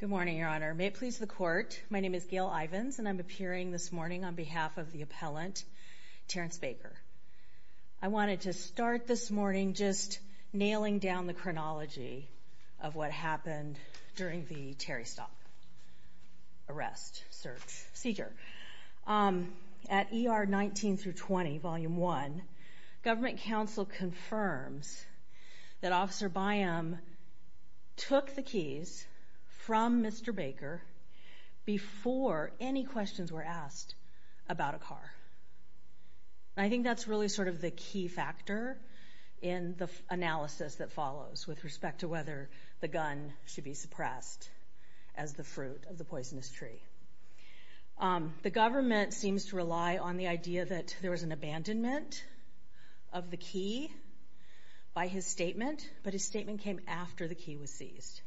Good morning, Your Honor. May it please the Court, my name is Gail Ivins and I'm appearing this morning on behalf of the appellant, Terrance Baker. I wanted to start this morning just nailing down the chronology of what happened during the Terry Stott arrest, search, seizure. At ER 19-20, Volume 1, government counsel confirms that Officer Byam took the keys from Mr. Baker before any questions were asked about a car. I think that's really sort of the key factor in the analysis that follows with respect to whether the gun should be The government seems to rely on the idea that there was an abandonment of the key by his statement, but his statement came after the key was seized.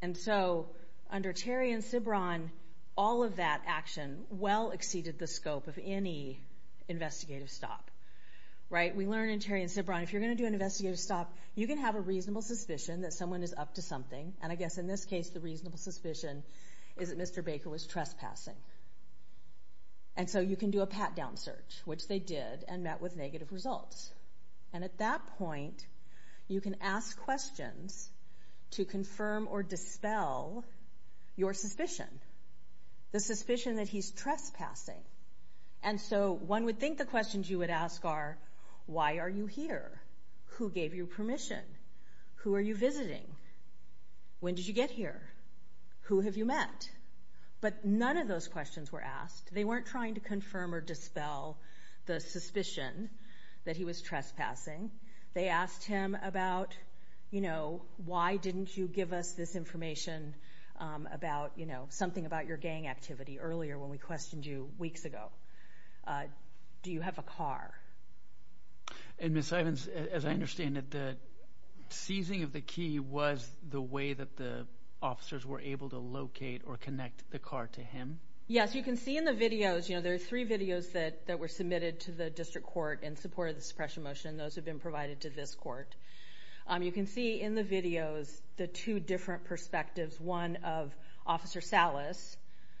And so, under Terry and Sibron, all of that action well exceeded the scope of any investigative stop. We learn in Terry and Sibron, if you're going to do an investigative stop, you can have a reasonable suspicion that someone is up to something, and I guess in this case, the reasonable suspicion is that Mr. Baker was trespassing. And so, you can do a pat-down search, which they did, and met with negative results. And at that point, you can ask questions to confirm or dispel your suspicion, the suspicion that he's trespassing. And so, one would think the questions you would ask are, why are you here? Who gave you permission? Who are you But none of those questions were asked. They weren't trying to confirm or dispel the suspicion that he was trespassing. They asked him about, you know, why didn't you give us this information about, you know, something about your gang activity earlier when we questioned you weeks ago. Do you have a car? And Ms. Sibrons, as I understand it, the seizing of the key was the way that the officers were able to locate or connect the car to him? Yes, you can see in the videos, you know, there are three videos that were submitted to the district court in support of the suppression motion, and those have been provided to this court. You can see in the videos the two different perspectives, one of Officer Salas,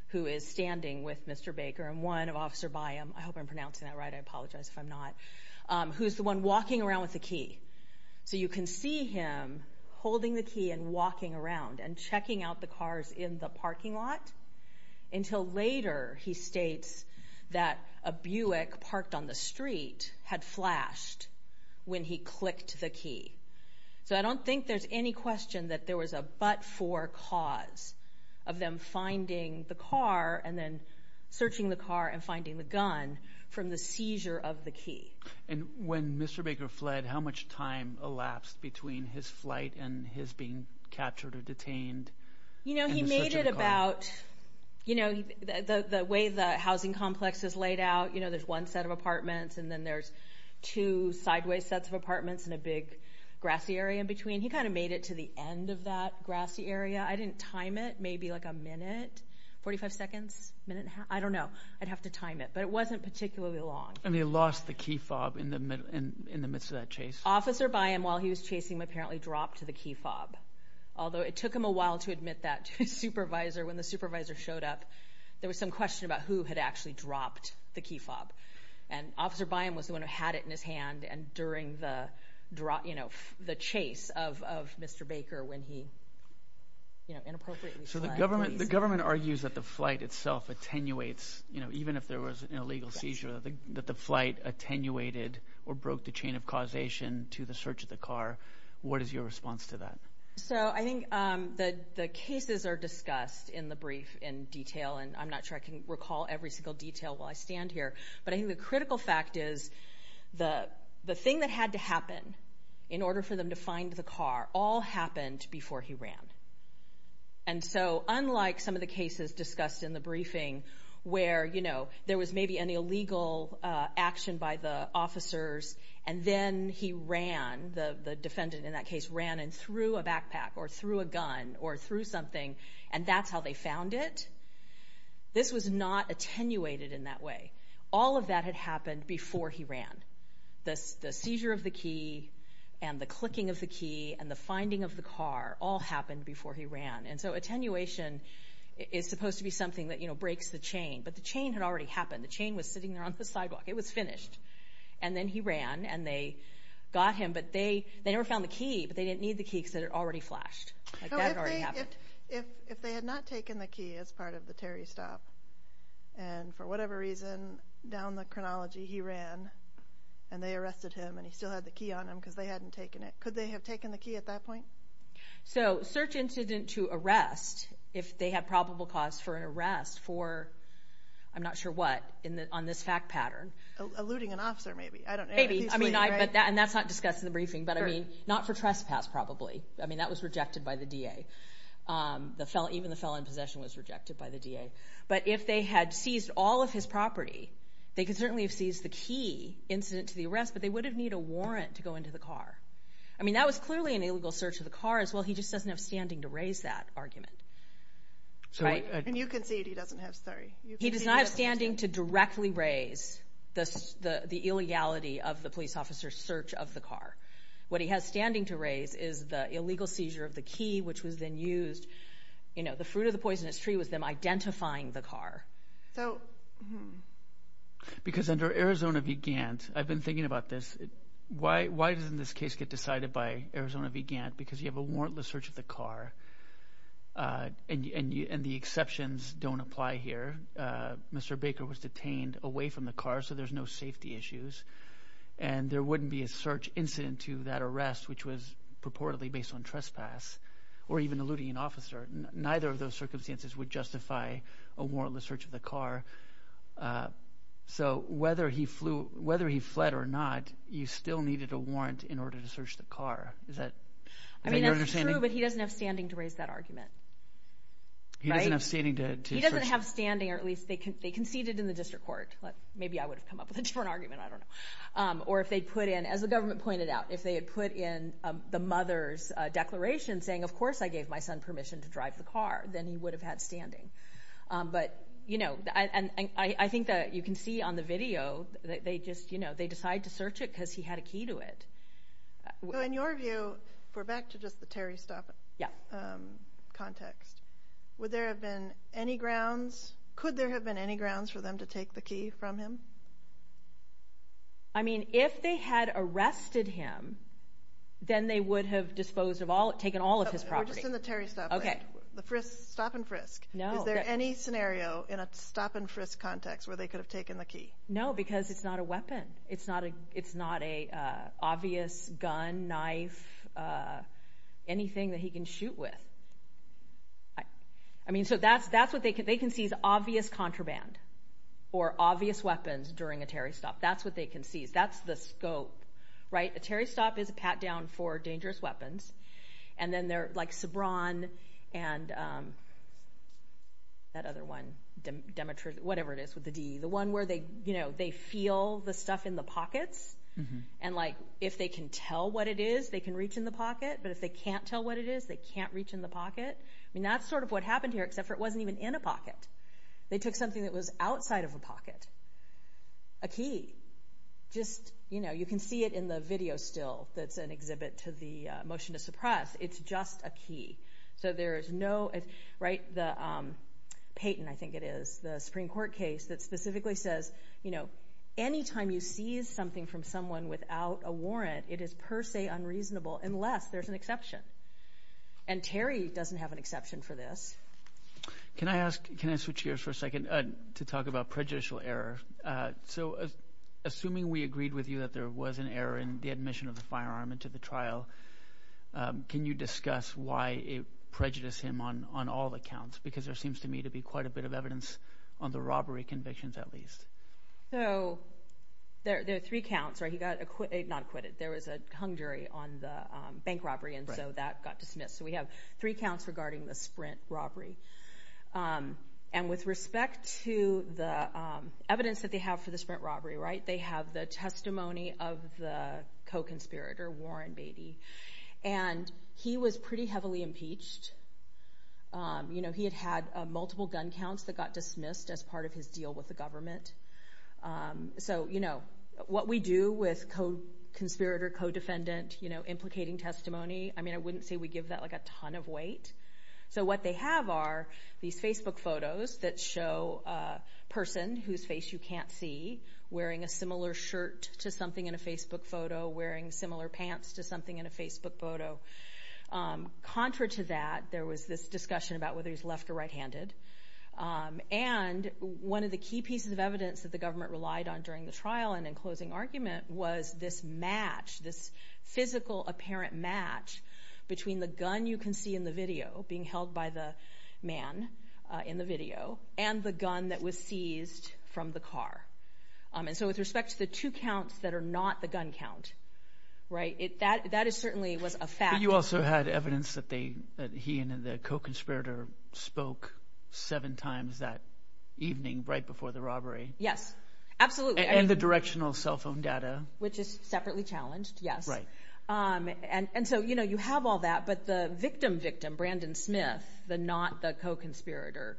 who is standing with Mr. Baker, and one of Officer Byam, I hope I'm pronouncing that right, I apologize if I'm not, who's the one walking around with the key. So, you can see him holding the key and walking around and checking out the cars in the parking lot until later he states that a Buick parked on the street had flashed when he clicked the key. So, I don't think there's any question that there was a but-for cause of them finding the car and then searching the car and finding the gun from the seizure of the key. And when Mr. Baker fled, how much time elapsed between his flight and his being captured or detained? You know, he made it about, you know, the way the housing complex was laid out, you know, there's one set of apartments and then there's two sideways sets of apartments and a big grassy area in between. He kind of made it to the end of that grassy area. I didn't time it, maybe like a minute, 45 seconds, minute and a half, I don't know, I'd have to time it, but it wasn't particularly long. And he lost the key fob in the midst of that chase? Officer Byam, while he was chasing him, apparently dropped the key fob, although it took him a while to admit that to his supervisor. When the supervisor showed up, there was some question about who had actually dropped the key fob. And Officer Byam was the one who had it in his hand and during the, you know, the chase of Mr. Baker when he, you know, inappropriately fled. So, the government argues that the flight itself attenuates, you know, even if there was an illegal seizure, that the flight attenuated or broke the chain of causation to the search of the car. What is your response to that? So, I think the cases are discussed in the brief in detail and I'm not sure I can recall every single detail while I stand here. But I think the critical fact is the thing that had to happen in order for them to find the car all happened before he ran. And so, unlike some of the cases discussed in the briefing where, you know, there was maybe an illegal action by the officers and then he ran, the defendant in that case ran and threw a backpack or threw a gun or threw something and that's how they found it. This was not attenuated in that way. All of that had happened before he ran. The seizure of the key and the clicking of the key and the finding of the car all happened before he ran. And so, attenuation is supposed to be something that, you know, breaks the chain. But the chain had already happened. The chain was sitting there on the sidewalk. It was finished. And then he ran and they got him, but they never found the key, but they didn't need the key because it had already flashed. Like that had already happened. If they had not taken the key as part of the Terry stop and for whatever reason down the chronology he ran and they arrested him and he still had the key on him because they hadn't taken it, could they have taken the key at that point? So search incident to arrest, if they had probable cause for an arrest for, I'm not sure what, on this fact pattern. Eluding an officer maybe. Maybe. I mean, and that's not discussed in the briefing, but I mean, not for trespass probably. I mean, that was rejected by the DA. Even the felon in possession was rejected by the DA. But if they had seized all of his property, they could certainly have seized the key incident to the arrest, but they would have needed a warrant to go into the car. I mean, that was clearly an illegal search of the car as well. He just doesn't have standing to raise that argument. And you concede he doesn't have, sorry. He does not have standing to directly raise the illegality of the police officer's search of the car. What he has standing to raise is the illegal seizure of the key, which was then used, you know, the fruit of the poisonous tree was them identifying the car. So, hmm. Because under Arizona v. Gantt, I've been thinking about this. Why doesn't this case get decided by Arizona v. Gantt? Because you have a warrantless search of the car, and the exceptions don't apply here. Mr. Baker was detained away from the car, so there's no safety issues. And there wouldn't be a search incident to that arrest, which was purportedly based on trespass, or even eluding an officer. Neither of those circumstances would justify a warrantless search of the car. So, whether he fled or not, you still needed a warrant in order to search the car. Is that your understanding? I mean, that's true, but he doesn't have standing to raise that argument. He doesn't have standing to search the car. He doesn't have standing, or at least they conceded in the district court. Maybe I would have come up with a different argument. I don't know. Or if they put in, as the government pointed out, if they had put in the mother's declaration saying, of course I gave my son permission to drive the car, then he would have had standing. But, you know, and I think that you can see on the video that they just, you know, they decide to search it because he had a key to it. So, in your view, if we're back to just the Terry Stoffer context, would there have been any grounds, could there have been any grounds for them to take the key from him? I mean, if they had arrested him, then they would have disposed of all, taken all of his property. We're just in the Terry Stoffer land. The frisk, stop and frisk. Is there any scenario in a stop and frisk context where they could have taken the key? No, because it's not a weapon. It's not an obvious gun, knife, anything that he can shoot with. I mean, so that's what they can see is obvious contraband or obvious weapons during a Terry Stoffer. That's what they can see. That's the scope, right? A Terry Stoffer is and that other one, Demetri, whatever it is with the D, the one where they, you know, they feel the stuff in the pockets, and like if they can tell what it is, they can reach in the pocket, but if they can't tell what it is, they can't reach in the pocket. I mean, that's sort of what happened here, except for it wasn't even in a pocket. They took something that was outside of a pocket, a key. Just, you know, you can see it in the key. So there is no, right, the Payton, I think it is, the Supreme Court case that specifically says, you know, any time you seize something from someone without a warrant, it is per se unreasonable unless there's an exception. And Terry doesn't have an exception for this. Can I ask, can I switch gears for a second to talk about prejudicial error? So assuming we agreed with you that there was an error in the admission of the firearm into the trial, can you discuss why it prejudiced him on all the counts? Because there seems to me to be quite a bit of evidence on the robbery convictions, at least. So there are three counts, right? He got acquitted, not acquitted, there was a hung jury on the bank robbery, and so that got dismissed. So we have three counts regarding the Sprint robbery. And with respect to the evidence that they have for the Sprint robbery, right, they have the testimony of the co-conspirator, Warren Beatty. And he was pretty heavily impeached. You know, he had had multiple gun counts that got dismissed as part of his deal with the government. So, you know, what we do with co-conspirator, co-defendant, you know, implicating testimony, I mean, I wouldn't say we give that like a ton of weight. So what they have are these Facebook photos that show a person whose face you can't see wearing a similar shirt to something in a Facebook photo, wearing similar pants to something in a Facebook photo. Contra to that, there was this discussion about whether he's left or right-handed. And one of the key pieces of evidence that the government relied on during the trial and in closing argument was this match, this physical apparent match between the gun you can see in the video, being held by the man in the video, and the gun that was seized from the car. And so with respect to the two counts that are not the gun count, right, that is certainly was a fact. But you also had evidence that he and the co-conspirator spoke seven times that evening right before the robbery. Yes, absolutely. And the directional cell phone data. Which is separately challenged, yes. And so, you know, you have all that, but the victim-victim, Brandon Smith, the not-the-co-conspirator,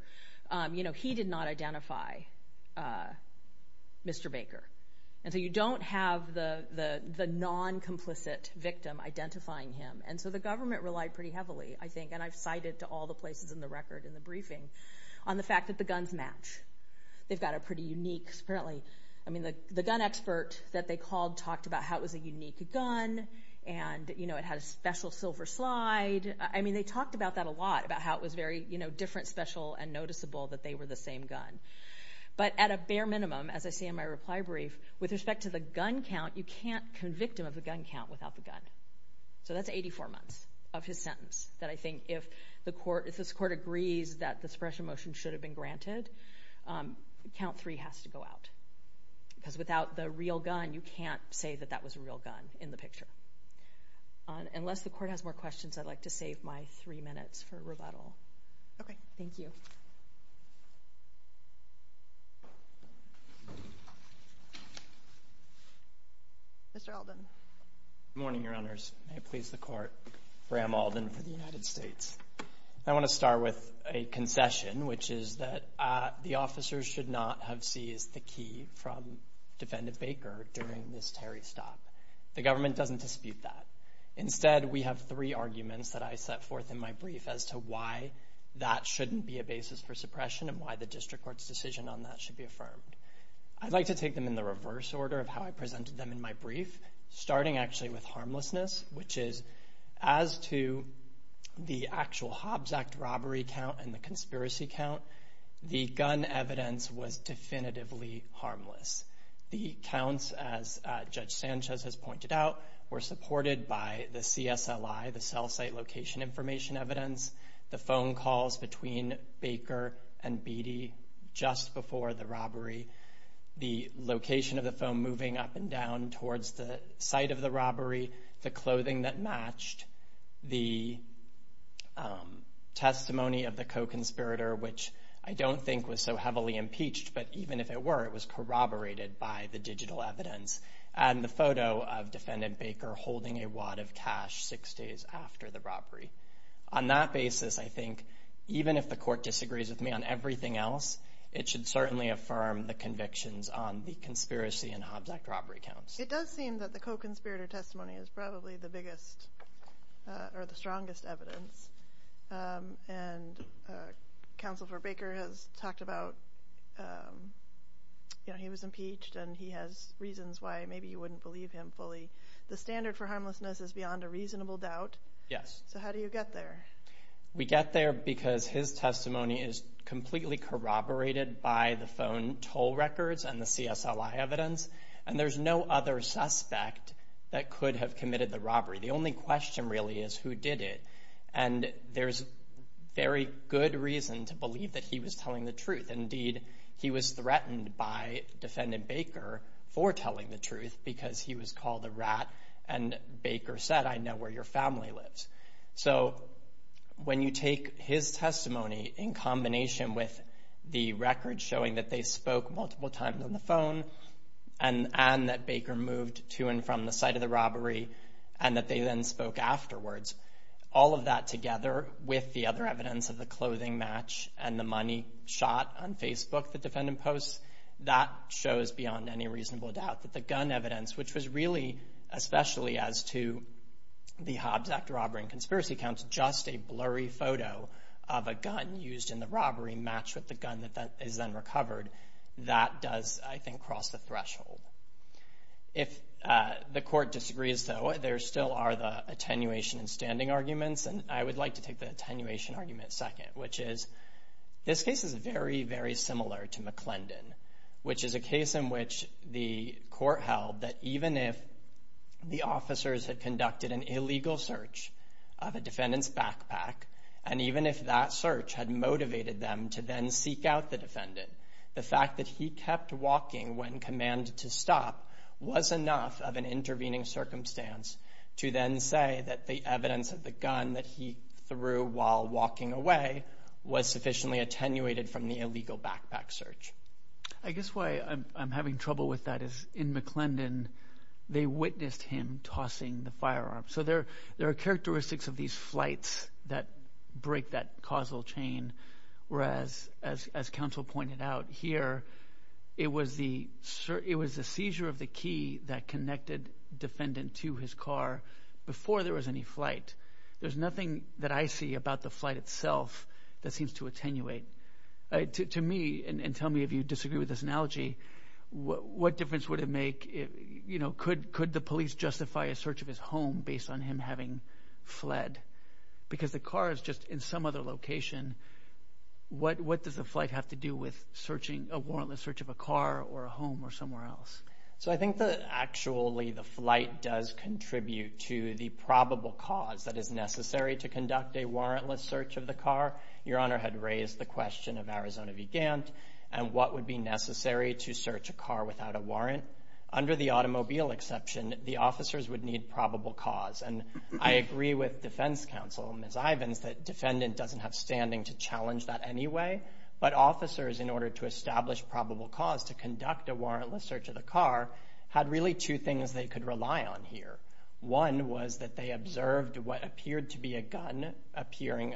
you know, he did not identify Mr. Baker. And so you don't have the non-complicit victim identifying him. And so the government relied pretty heavily, I think, and I've cited to all the places in the record in the briefing, on the fact that the guns match. They've got a pretty unique, apparently, I mean, the gun expert that they called talked about how it was a unique gun, and, you know, it had a special silver slide. I mean, they talked about that a lot, about how it was very, you know, different, special, and noticeable that they were the same gun. But at a bare minimum, as I say in my reply brief, with respect to the gun count, you can't convict him of a gun count without the gun. So that's 84 months of his sentence that I think if the court, if this court agrees that the suppression motion should have been a real gun, you can't say that that was a real gun in the picture. Unless the court has more questions, I'd like to save my three minutes for rebuttal. Okay. Thank you. Mr. Alden. Good morning, Your Honors. May it please the Court, Bram Alden for the United States. I want to start with a concession, which is that the officers should not have seized the Baker during this Terry stop. The government doesn't dispute that. Instead, we have three arguments that I set forth in my brief as to why that shouldn't be a basis for suppression and why the district court's decision on that should be affirmed. I'd like to take them in the reverse order of how I presented them in my brief, starting actually with harmlessness, which is, as to the actual Hobbs Act robbery count and the conspiracy count, the gun evidence was definitively harmless. The counts, as Judge Sanchez has pointed out, were supported by the CSLI, the cell site location information evidence, the phone calls between Baker and Beattie just before the robbery, the location of the phone moving up and down towards the site of the robbery, the clothing that matched, the testimony of the co-conspirator, which I don't think was so heavily impeached, but even if it were, it was corroborated by the digital evidence, and the photo of Defendant Baker holding a wad of cash six days after the robbery. On that basis, I think, even if the court disagrees with me on everything else, it should certainly affirm the convictions on the conspiracy and Hobbs Act robbery counts. It does seem that the co-conspirator testimony is probably the biggest or the strongest evidence, and Counsel for Baker has talked about, you know, he was impeached, and he has reasons why maybe you wouldn't believe him fully. The standard for harmlessness is beyond a reasonable doubt. Yes. So how do you get there? We get there because his testimony is completely corroborated by the phone toll records and the CSLI evidence, and there's no other suspect that could have committed the robbery. The only question really is who did it, and there's very good reason to believe that he was telling the truth. Indeed, he was threatened by Defendant Baker for telling the truth because he was called a rat, and Baker said, I know where your family lives. So when you take his testimony in combination with the records showing that they spoke multiple times on the phone and that Baker moved to and from the site of the robbery and that they then spoke afterwards, all of that together with the other evidence of the clothing match and the money shot on Facebook, the defendant posts, that shows beyond any reasonable doubt that the gun evidence, which was really especially as to the Hobbs Act robbery and conspiracy counts, just a blurry photo of a gun used in the robbery matched with the gun that is then recovered, that does, I think, cross the threshold. If the court disagrees, though, there still are the attenuation and standing arguments, and I would like to take the attenuation argument second, which is this case is very, very similar to McClendon, which is a case in which the court held that even if the officers had conducted an illegal search of a defendant's backpack, and even if that search had motivated them to then seek out the defendant, the fact that he kept walking when commanded to stop was enough of an intervening circumstance to then say that the evidence of the gun that he threw while walking away was sufficiently attenuated from the illegal backpack search. I guess why I'm having trouble with that is in McClendon, they witnessed him tossing the firearm, so there are characteristics of these flights that break that causal chain, whereas as counsel pointed out here, it was the seizure of the key that connected defendant to his car before there was any flight. There's nothing that I see about the flight itself that seems to attenuate. To me, and tell me if you disagree with this analogy, what difference would it make, could the police justify a search of his home based on him having fled? Because the car is just in some other location, what does the flight have to do with a warrantless search of a car or a home or somewhere else? So I think that actually the flight does contribute to the probable cause that is necessary to conduct a warrantless search of the car. Your Honor had raised the question of Arizona Vigant and what would be necessary to search a car without a warrant. Under the automobile exception, the officers would need probable cause, and I agree with defense counsel, Ms. Ivins, that defendant doesn't have standing to challenge that anyway, but officers, in order to establish probable cause to conduct a warrantless search of the car, had really two things they could rely on here. One was that they observed what appeared to be a gun appearing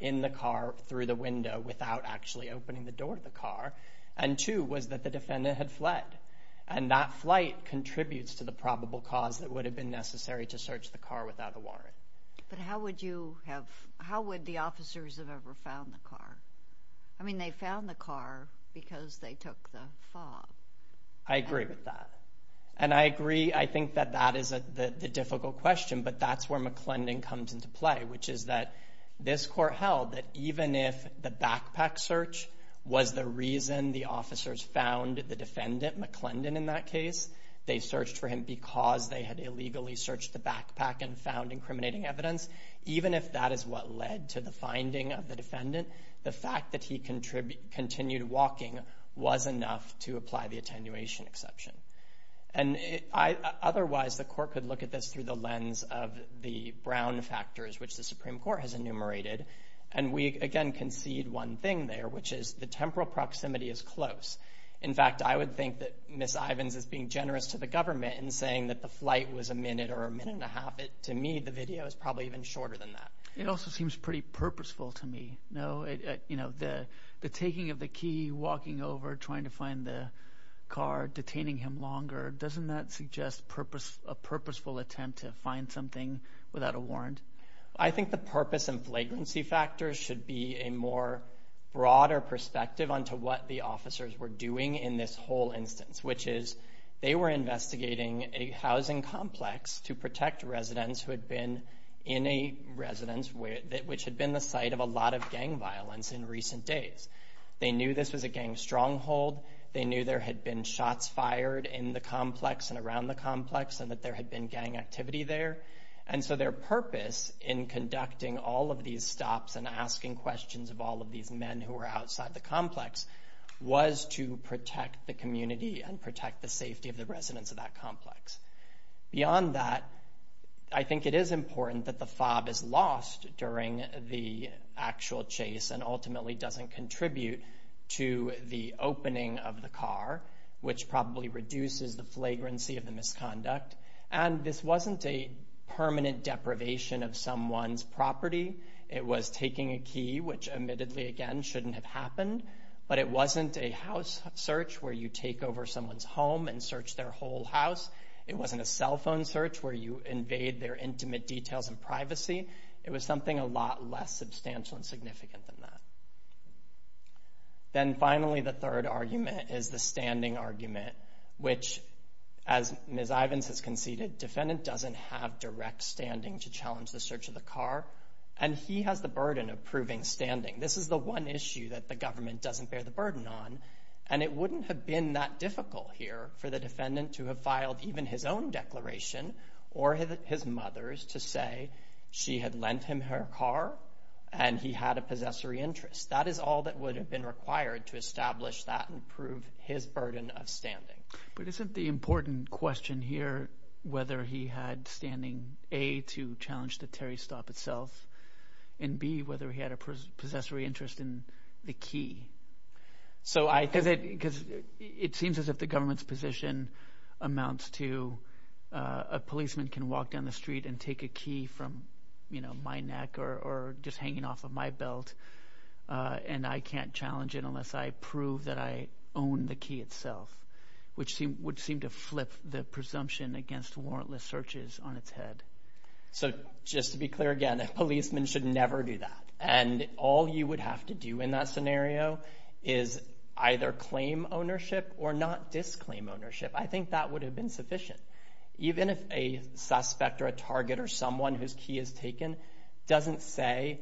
in the car through the window without actually opening the door of the car, and two was that the defendant had fled, and that flight contributes to the probable cause that would have been necessary to search the car without a warrant. But how would you have, how would the officers have ever found the car? I mean, they found the car because they took the fob. I agree with that, and I agree, I think that that is the difficult question, but that's where McClendon comes into play, which is that this court held that even if the backpack search was the reason the officers found the defendant, McClendon, in that case, they searched for him because they had illegally searched the backpack and found incriminating evidence. Even if that is what led to the finding of the defendant, the fact that he continued walking was enough to apply the attenuation exception. And otherwise, the court could look at this through the lens of the Brown factors, which the Supreme Court has enumerated, and we again concede one thing there, which is the temporal proximity is close. In fact, I would think that Ms. Ivins is being generous to the government in saying that the flight was a minute or a minute and a half. To me, the video is probably even shorter than that. It also seems pretty purposeful to me. The taking of the key, walking over, trying to get out of the car, detaining him longer, doesn't that suggest a purposeful attempt to find something without a warrant? I think the purpose and flagrancy factors should be a more broader perspective onto what the officers were doing in this whole instance, which is they were investigating a housing complex to protect residents who had been in a residence which had been the site of a lot of gang violence in recent days. They knew this was a gang stronghold. They knew there had been shots fired in the complex and around the complex and that there had been gang activity there. Their purpose in conducting all of these stops and asking questions of all of these men who were outside the complex was to protect the community and protect the safety of the residents of that complex. Beyond that, I think it is important that the FOB is lost during the actual chase and ultimately doesn't contribute to the opening of the car, which probably reduces the flagrancy of the misconduct. This wasn't a permanent deprivation of someone's property. It was taking a key, which admittedly again shouldn't have happened, but it wasn't a house search where you take over someone's home and search their whole house. It wasn't a cell phone search where you invade their intimate details and privacy. It was something a lot less substantial and significant than that. Then finally, the third argument is the standing argument, which as Ms. Ivins has conceded, defendant doesn't have direct standing to challenge the search of the car and he has the burden of proving standing. This is the one issue that the government doesn't bear the burden on and it wouldn't have been that difficult here for the defendant to have filed even his own declaration or his mother's to say she had lent him her car and he had a possessory interest. That is all that would have been required to establish that and prove his burden of standing. But isn't the important question here whether he had standing A, to challenge the Terry Stop itself and B, whether he had a possessory interest in the key? It seems as if the government's position amounts to a policeman can walk down the street and take a key from my neck or just hanging off of my belt and I can't challenge it unless I prove that I own the key itself, which would seem to flip the presumption against warrantless searches on its head. Just to be clear again, a policeman should never do that. All you would have to do in that scenario is either claim ownership or not disclaim ownership. I think that would have been sufficient. Even if a suspect or a target or someone whose key is taken doesn't say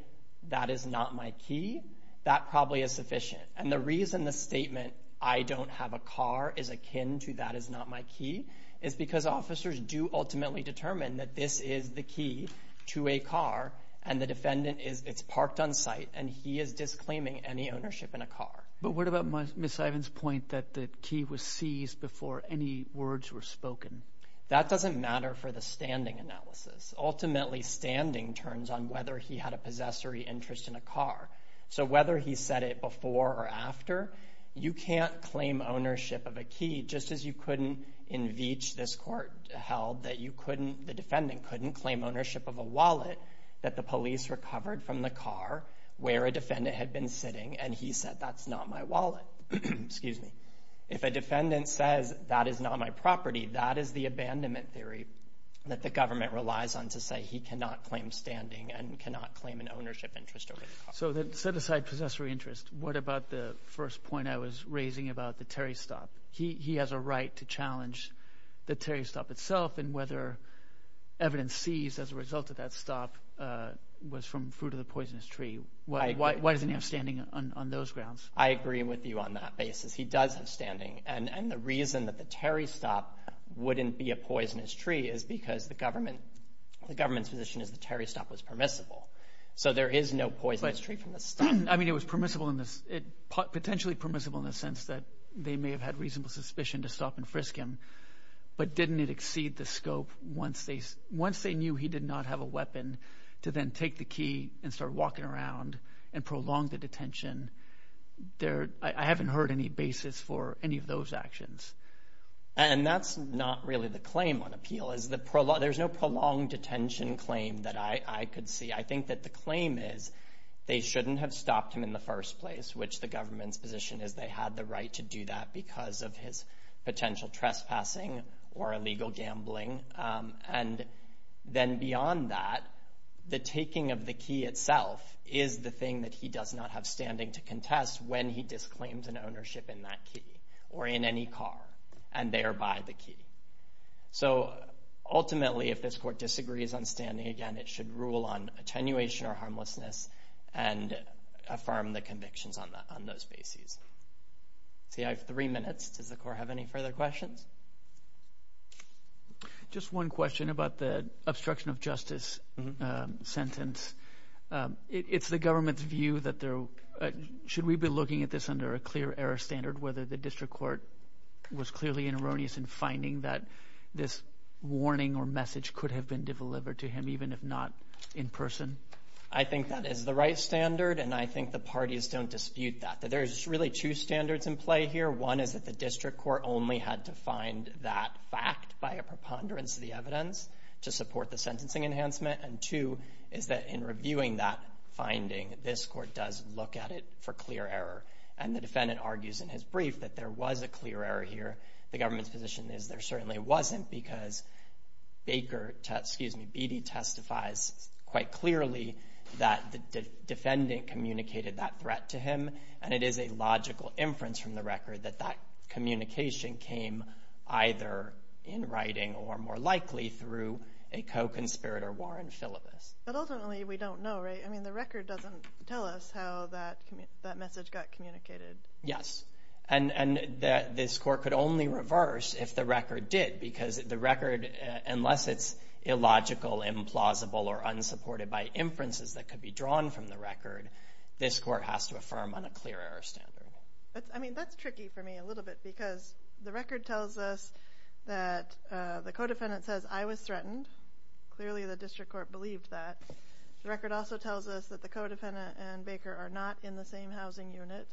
that is not my key, that probably is sufficient. And the reason the statement I don't have a car is akin to that is not my key is because officers do ultimately determine that this is the key to a car and the defendant is parked on site and he is disclaiming any ownership in a car. But what about Ms. Ivan's point that the key was seized before any words were spoken? That doesn't matter for the standing analysis. Ultimately, standing turns on whether he had a possessory interest in a car. So whether he said it before or after, you can't claim ownership of a key just as you couldn't in Veatch, this court held, that you couldn't, the defendant couldn't claim ownership of a wallet that the police recovered from the car where a defendant had been sitting and he said, that's not my wallet, excuse me. If a defendant says that is not my property, that is the abandonment theory that the government relies on to say he cannot claim standing and cannot claim an ownership interest. So then set aside possessory interest. What about the first point I was raising about the Terry Stop? He has a right to challenge the Terry Stop itself and whether evidence seized as a result of that stop was from fruit of the poisonous tree. Why doesn't he have standing on those grounds? I agree with you on that basis. He does have standing. And the reason that the Terry Stop wouldn't be a poisonous tree is because the government's position is the Terry Stop was permissible. So there is no poisonous tree from the stop. I mean, it was permissible in this, potentially permissible in the sense that they may have had reasonable suspicion to stop and frisk him. But didn't it exceed the scope once they knew he did not have a weapon to then take the key and start walking around and prolong the detention? I haven't heard any basis for any of those actions. And that's not really the claim on appeal. There's no prolonged detention claim that I could see. I think that the claim is they shouldn't have stopped him in the first place, which the government's position is they had the right to do that because of his potential trespassing or illegal gambling. And then beyond that, the taking of the key itself is the thing that he does not have standing to contest when he disclaims an ownership in that key or in any car and thereby the key. So ultimately, if this court disagrees on standing again, it should rule on attenuation or harmlessness and affirm the convictions on that on those bases. See, I have three minutes. Does the court have any further questions? Just one question about the obstruction of justice sentence. It's the government's view that there should we be looking at this under a clear error standard, whether the district court was clearly in erroneous in finding that this warning or message could have been delivered to him, even if not in person. I think that is the right standard, and I think the parties don't dispute that. There's really two standards in play here. One is that the district court only had to find that fact by a preponderance of the evidence to support the sentencing enhancement. And two is that in reviewing that finding, this court does look at it for clear error. And the defendant argues in his brief that there was a clear error here. The government's position is there certainly wasn't because Baker, excuse me, Beattie testifies quite clearly that the defendant communicated that threat to him. And it is a logical inference from the record that that communication came either in writing or more likely through a co-conspirator, Warren Philippus. But ultimately, we don't know, right? I mean, the record doesn't tell us how that message got communicated. Yes. And this court could only reverse if the record did, because the record, unless it's illogical, implausible, or unsupported by inferences that could be drawn from the record, this court has to affirm on a clear error standard. I mean, that's tricky for me a little bit, because the record tells us that the co-defendant says, I was threatened. Clearly, the district court believed that. The record also tells us that the co-defendant and Baker are not in the same housing unit,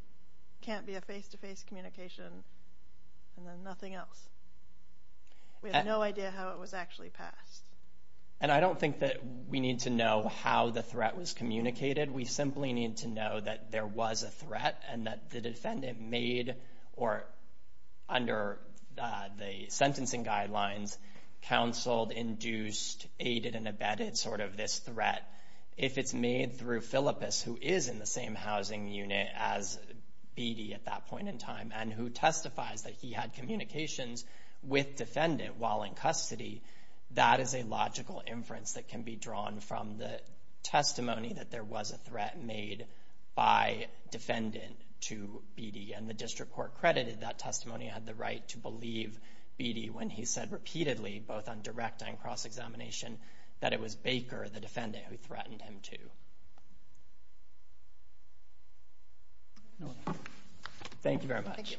can't be a face-to-face communication, and then nothing else. We have no idea how it was actually passed. And I don't think that we need to know how the threat was communicated. We simply need to know that there was a threat and that the defendant made, or under the sentencing guidelines, counseled, induced, aided, and abetted sort of this threat. If it's made through Philippus, who is in the same housing unit as Beattie at that point in time, and who testifies that he had communications with defendant while in custody, that is a logical inference that can be drawn from the testimony that there was a threat made by defendant to Beattie. And the district court credited that testimony had the right to believe Beattie when he said repeatedly, both on direct and cross-examination, that it was Baker, the defendant, who threatened him to. Thank you very much.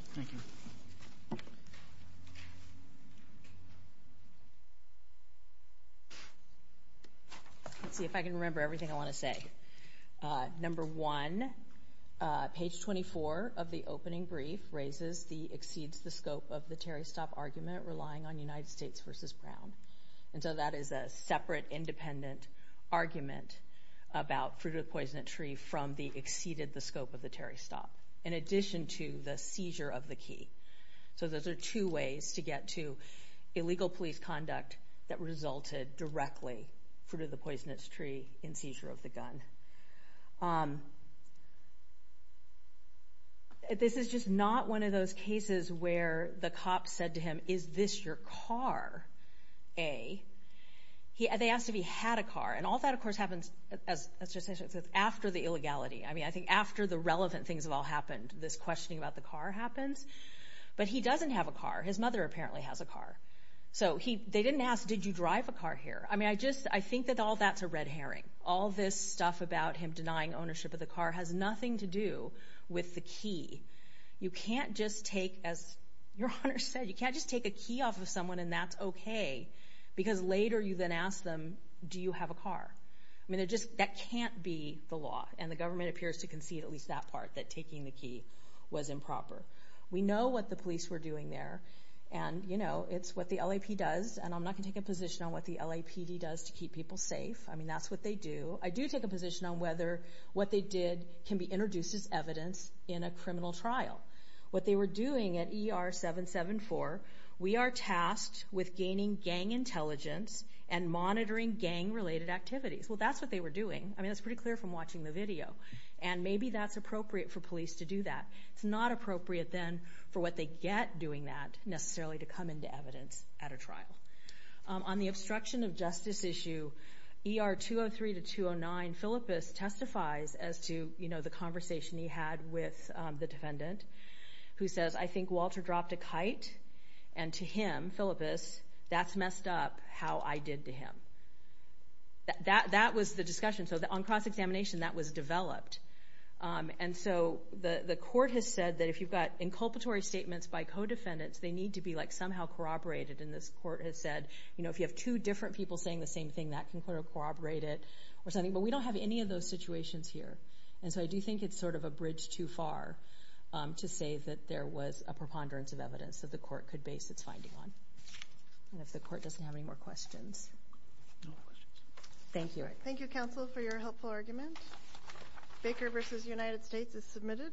Let's see if I can remember everything I want to say. Number one, page 24 of the opening statement, United States v. Brown. And so that is a separate, independent argument about Fruit of the Poisonous Tree from the Exceeded the Scope of the Terry Stop, in addition to the Seizure of the Key. So those are two ways to get to illegal police conduct that resulted directly, Fruit of the Poisonous Tree and Seizure of the Gun. This is just not one of those cases where the cop said to him, is this your car, A. They asked if he had a car, and all that of course happens after the illegality. I mean, I think after the relevant things have all happened, this questioning about the car happens. But he doesn't have a car. His mother apparently has a car. So they didn't ask, did you drive a car here? I mean, I just, I think that all that's a red herring. All this stuff about him denying ownership of the car has nothing to do with the key. You can't just take, as your Honor said, you can't just take a key off of someone and that's okay, because later you then ask them, do you have a car? I mean, it just, that can't be the law. And the government appears to concede at least that part, that taking the key was improper. We know what the police were doing there, and you know, it's what the LAP does, and I'm not going to take a position on what the LAPD does to keep people safe. I mean, that's what they do. I do take a position on whether what they did can be introduced as evidence in a criminal trial. What they were doing at ER 774, we are tasked with gaining gang intelligence and monitoring gang-related activities. Well, that's what they were doing. I mean, that's pretty clear from watching the video. And maybe that's appropriate for police to do that. It's not appropriate then for what they get doing that necessarily to come into evidence at a trial. On the obstruction of justice issue, ER 203 to 209, Philippus testifies as to, you know, the conversation he had with the defendant, who says, I think Walter dropped a kite, and to him, Philippus, that's messed up how I did to him. That was the discussion. So on cross-examination, that was developed. And so the court has said that if you've got inculpatory statements by co-defendants, they need to be somehow corroborated. And this court has said, if you have two different people saying the same thing, that can corroborate it or something. But we don't have any of those situations here. And so I do think it's sort of a bridge too far to say that there was a preponderance of evidence that the court could base its finding on. And if the court doesn't have any more questions. No more questions. Thank you. Thank you, counsel, for your helpful argument. Baker v. United States is submitted.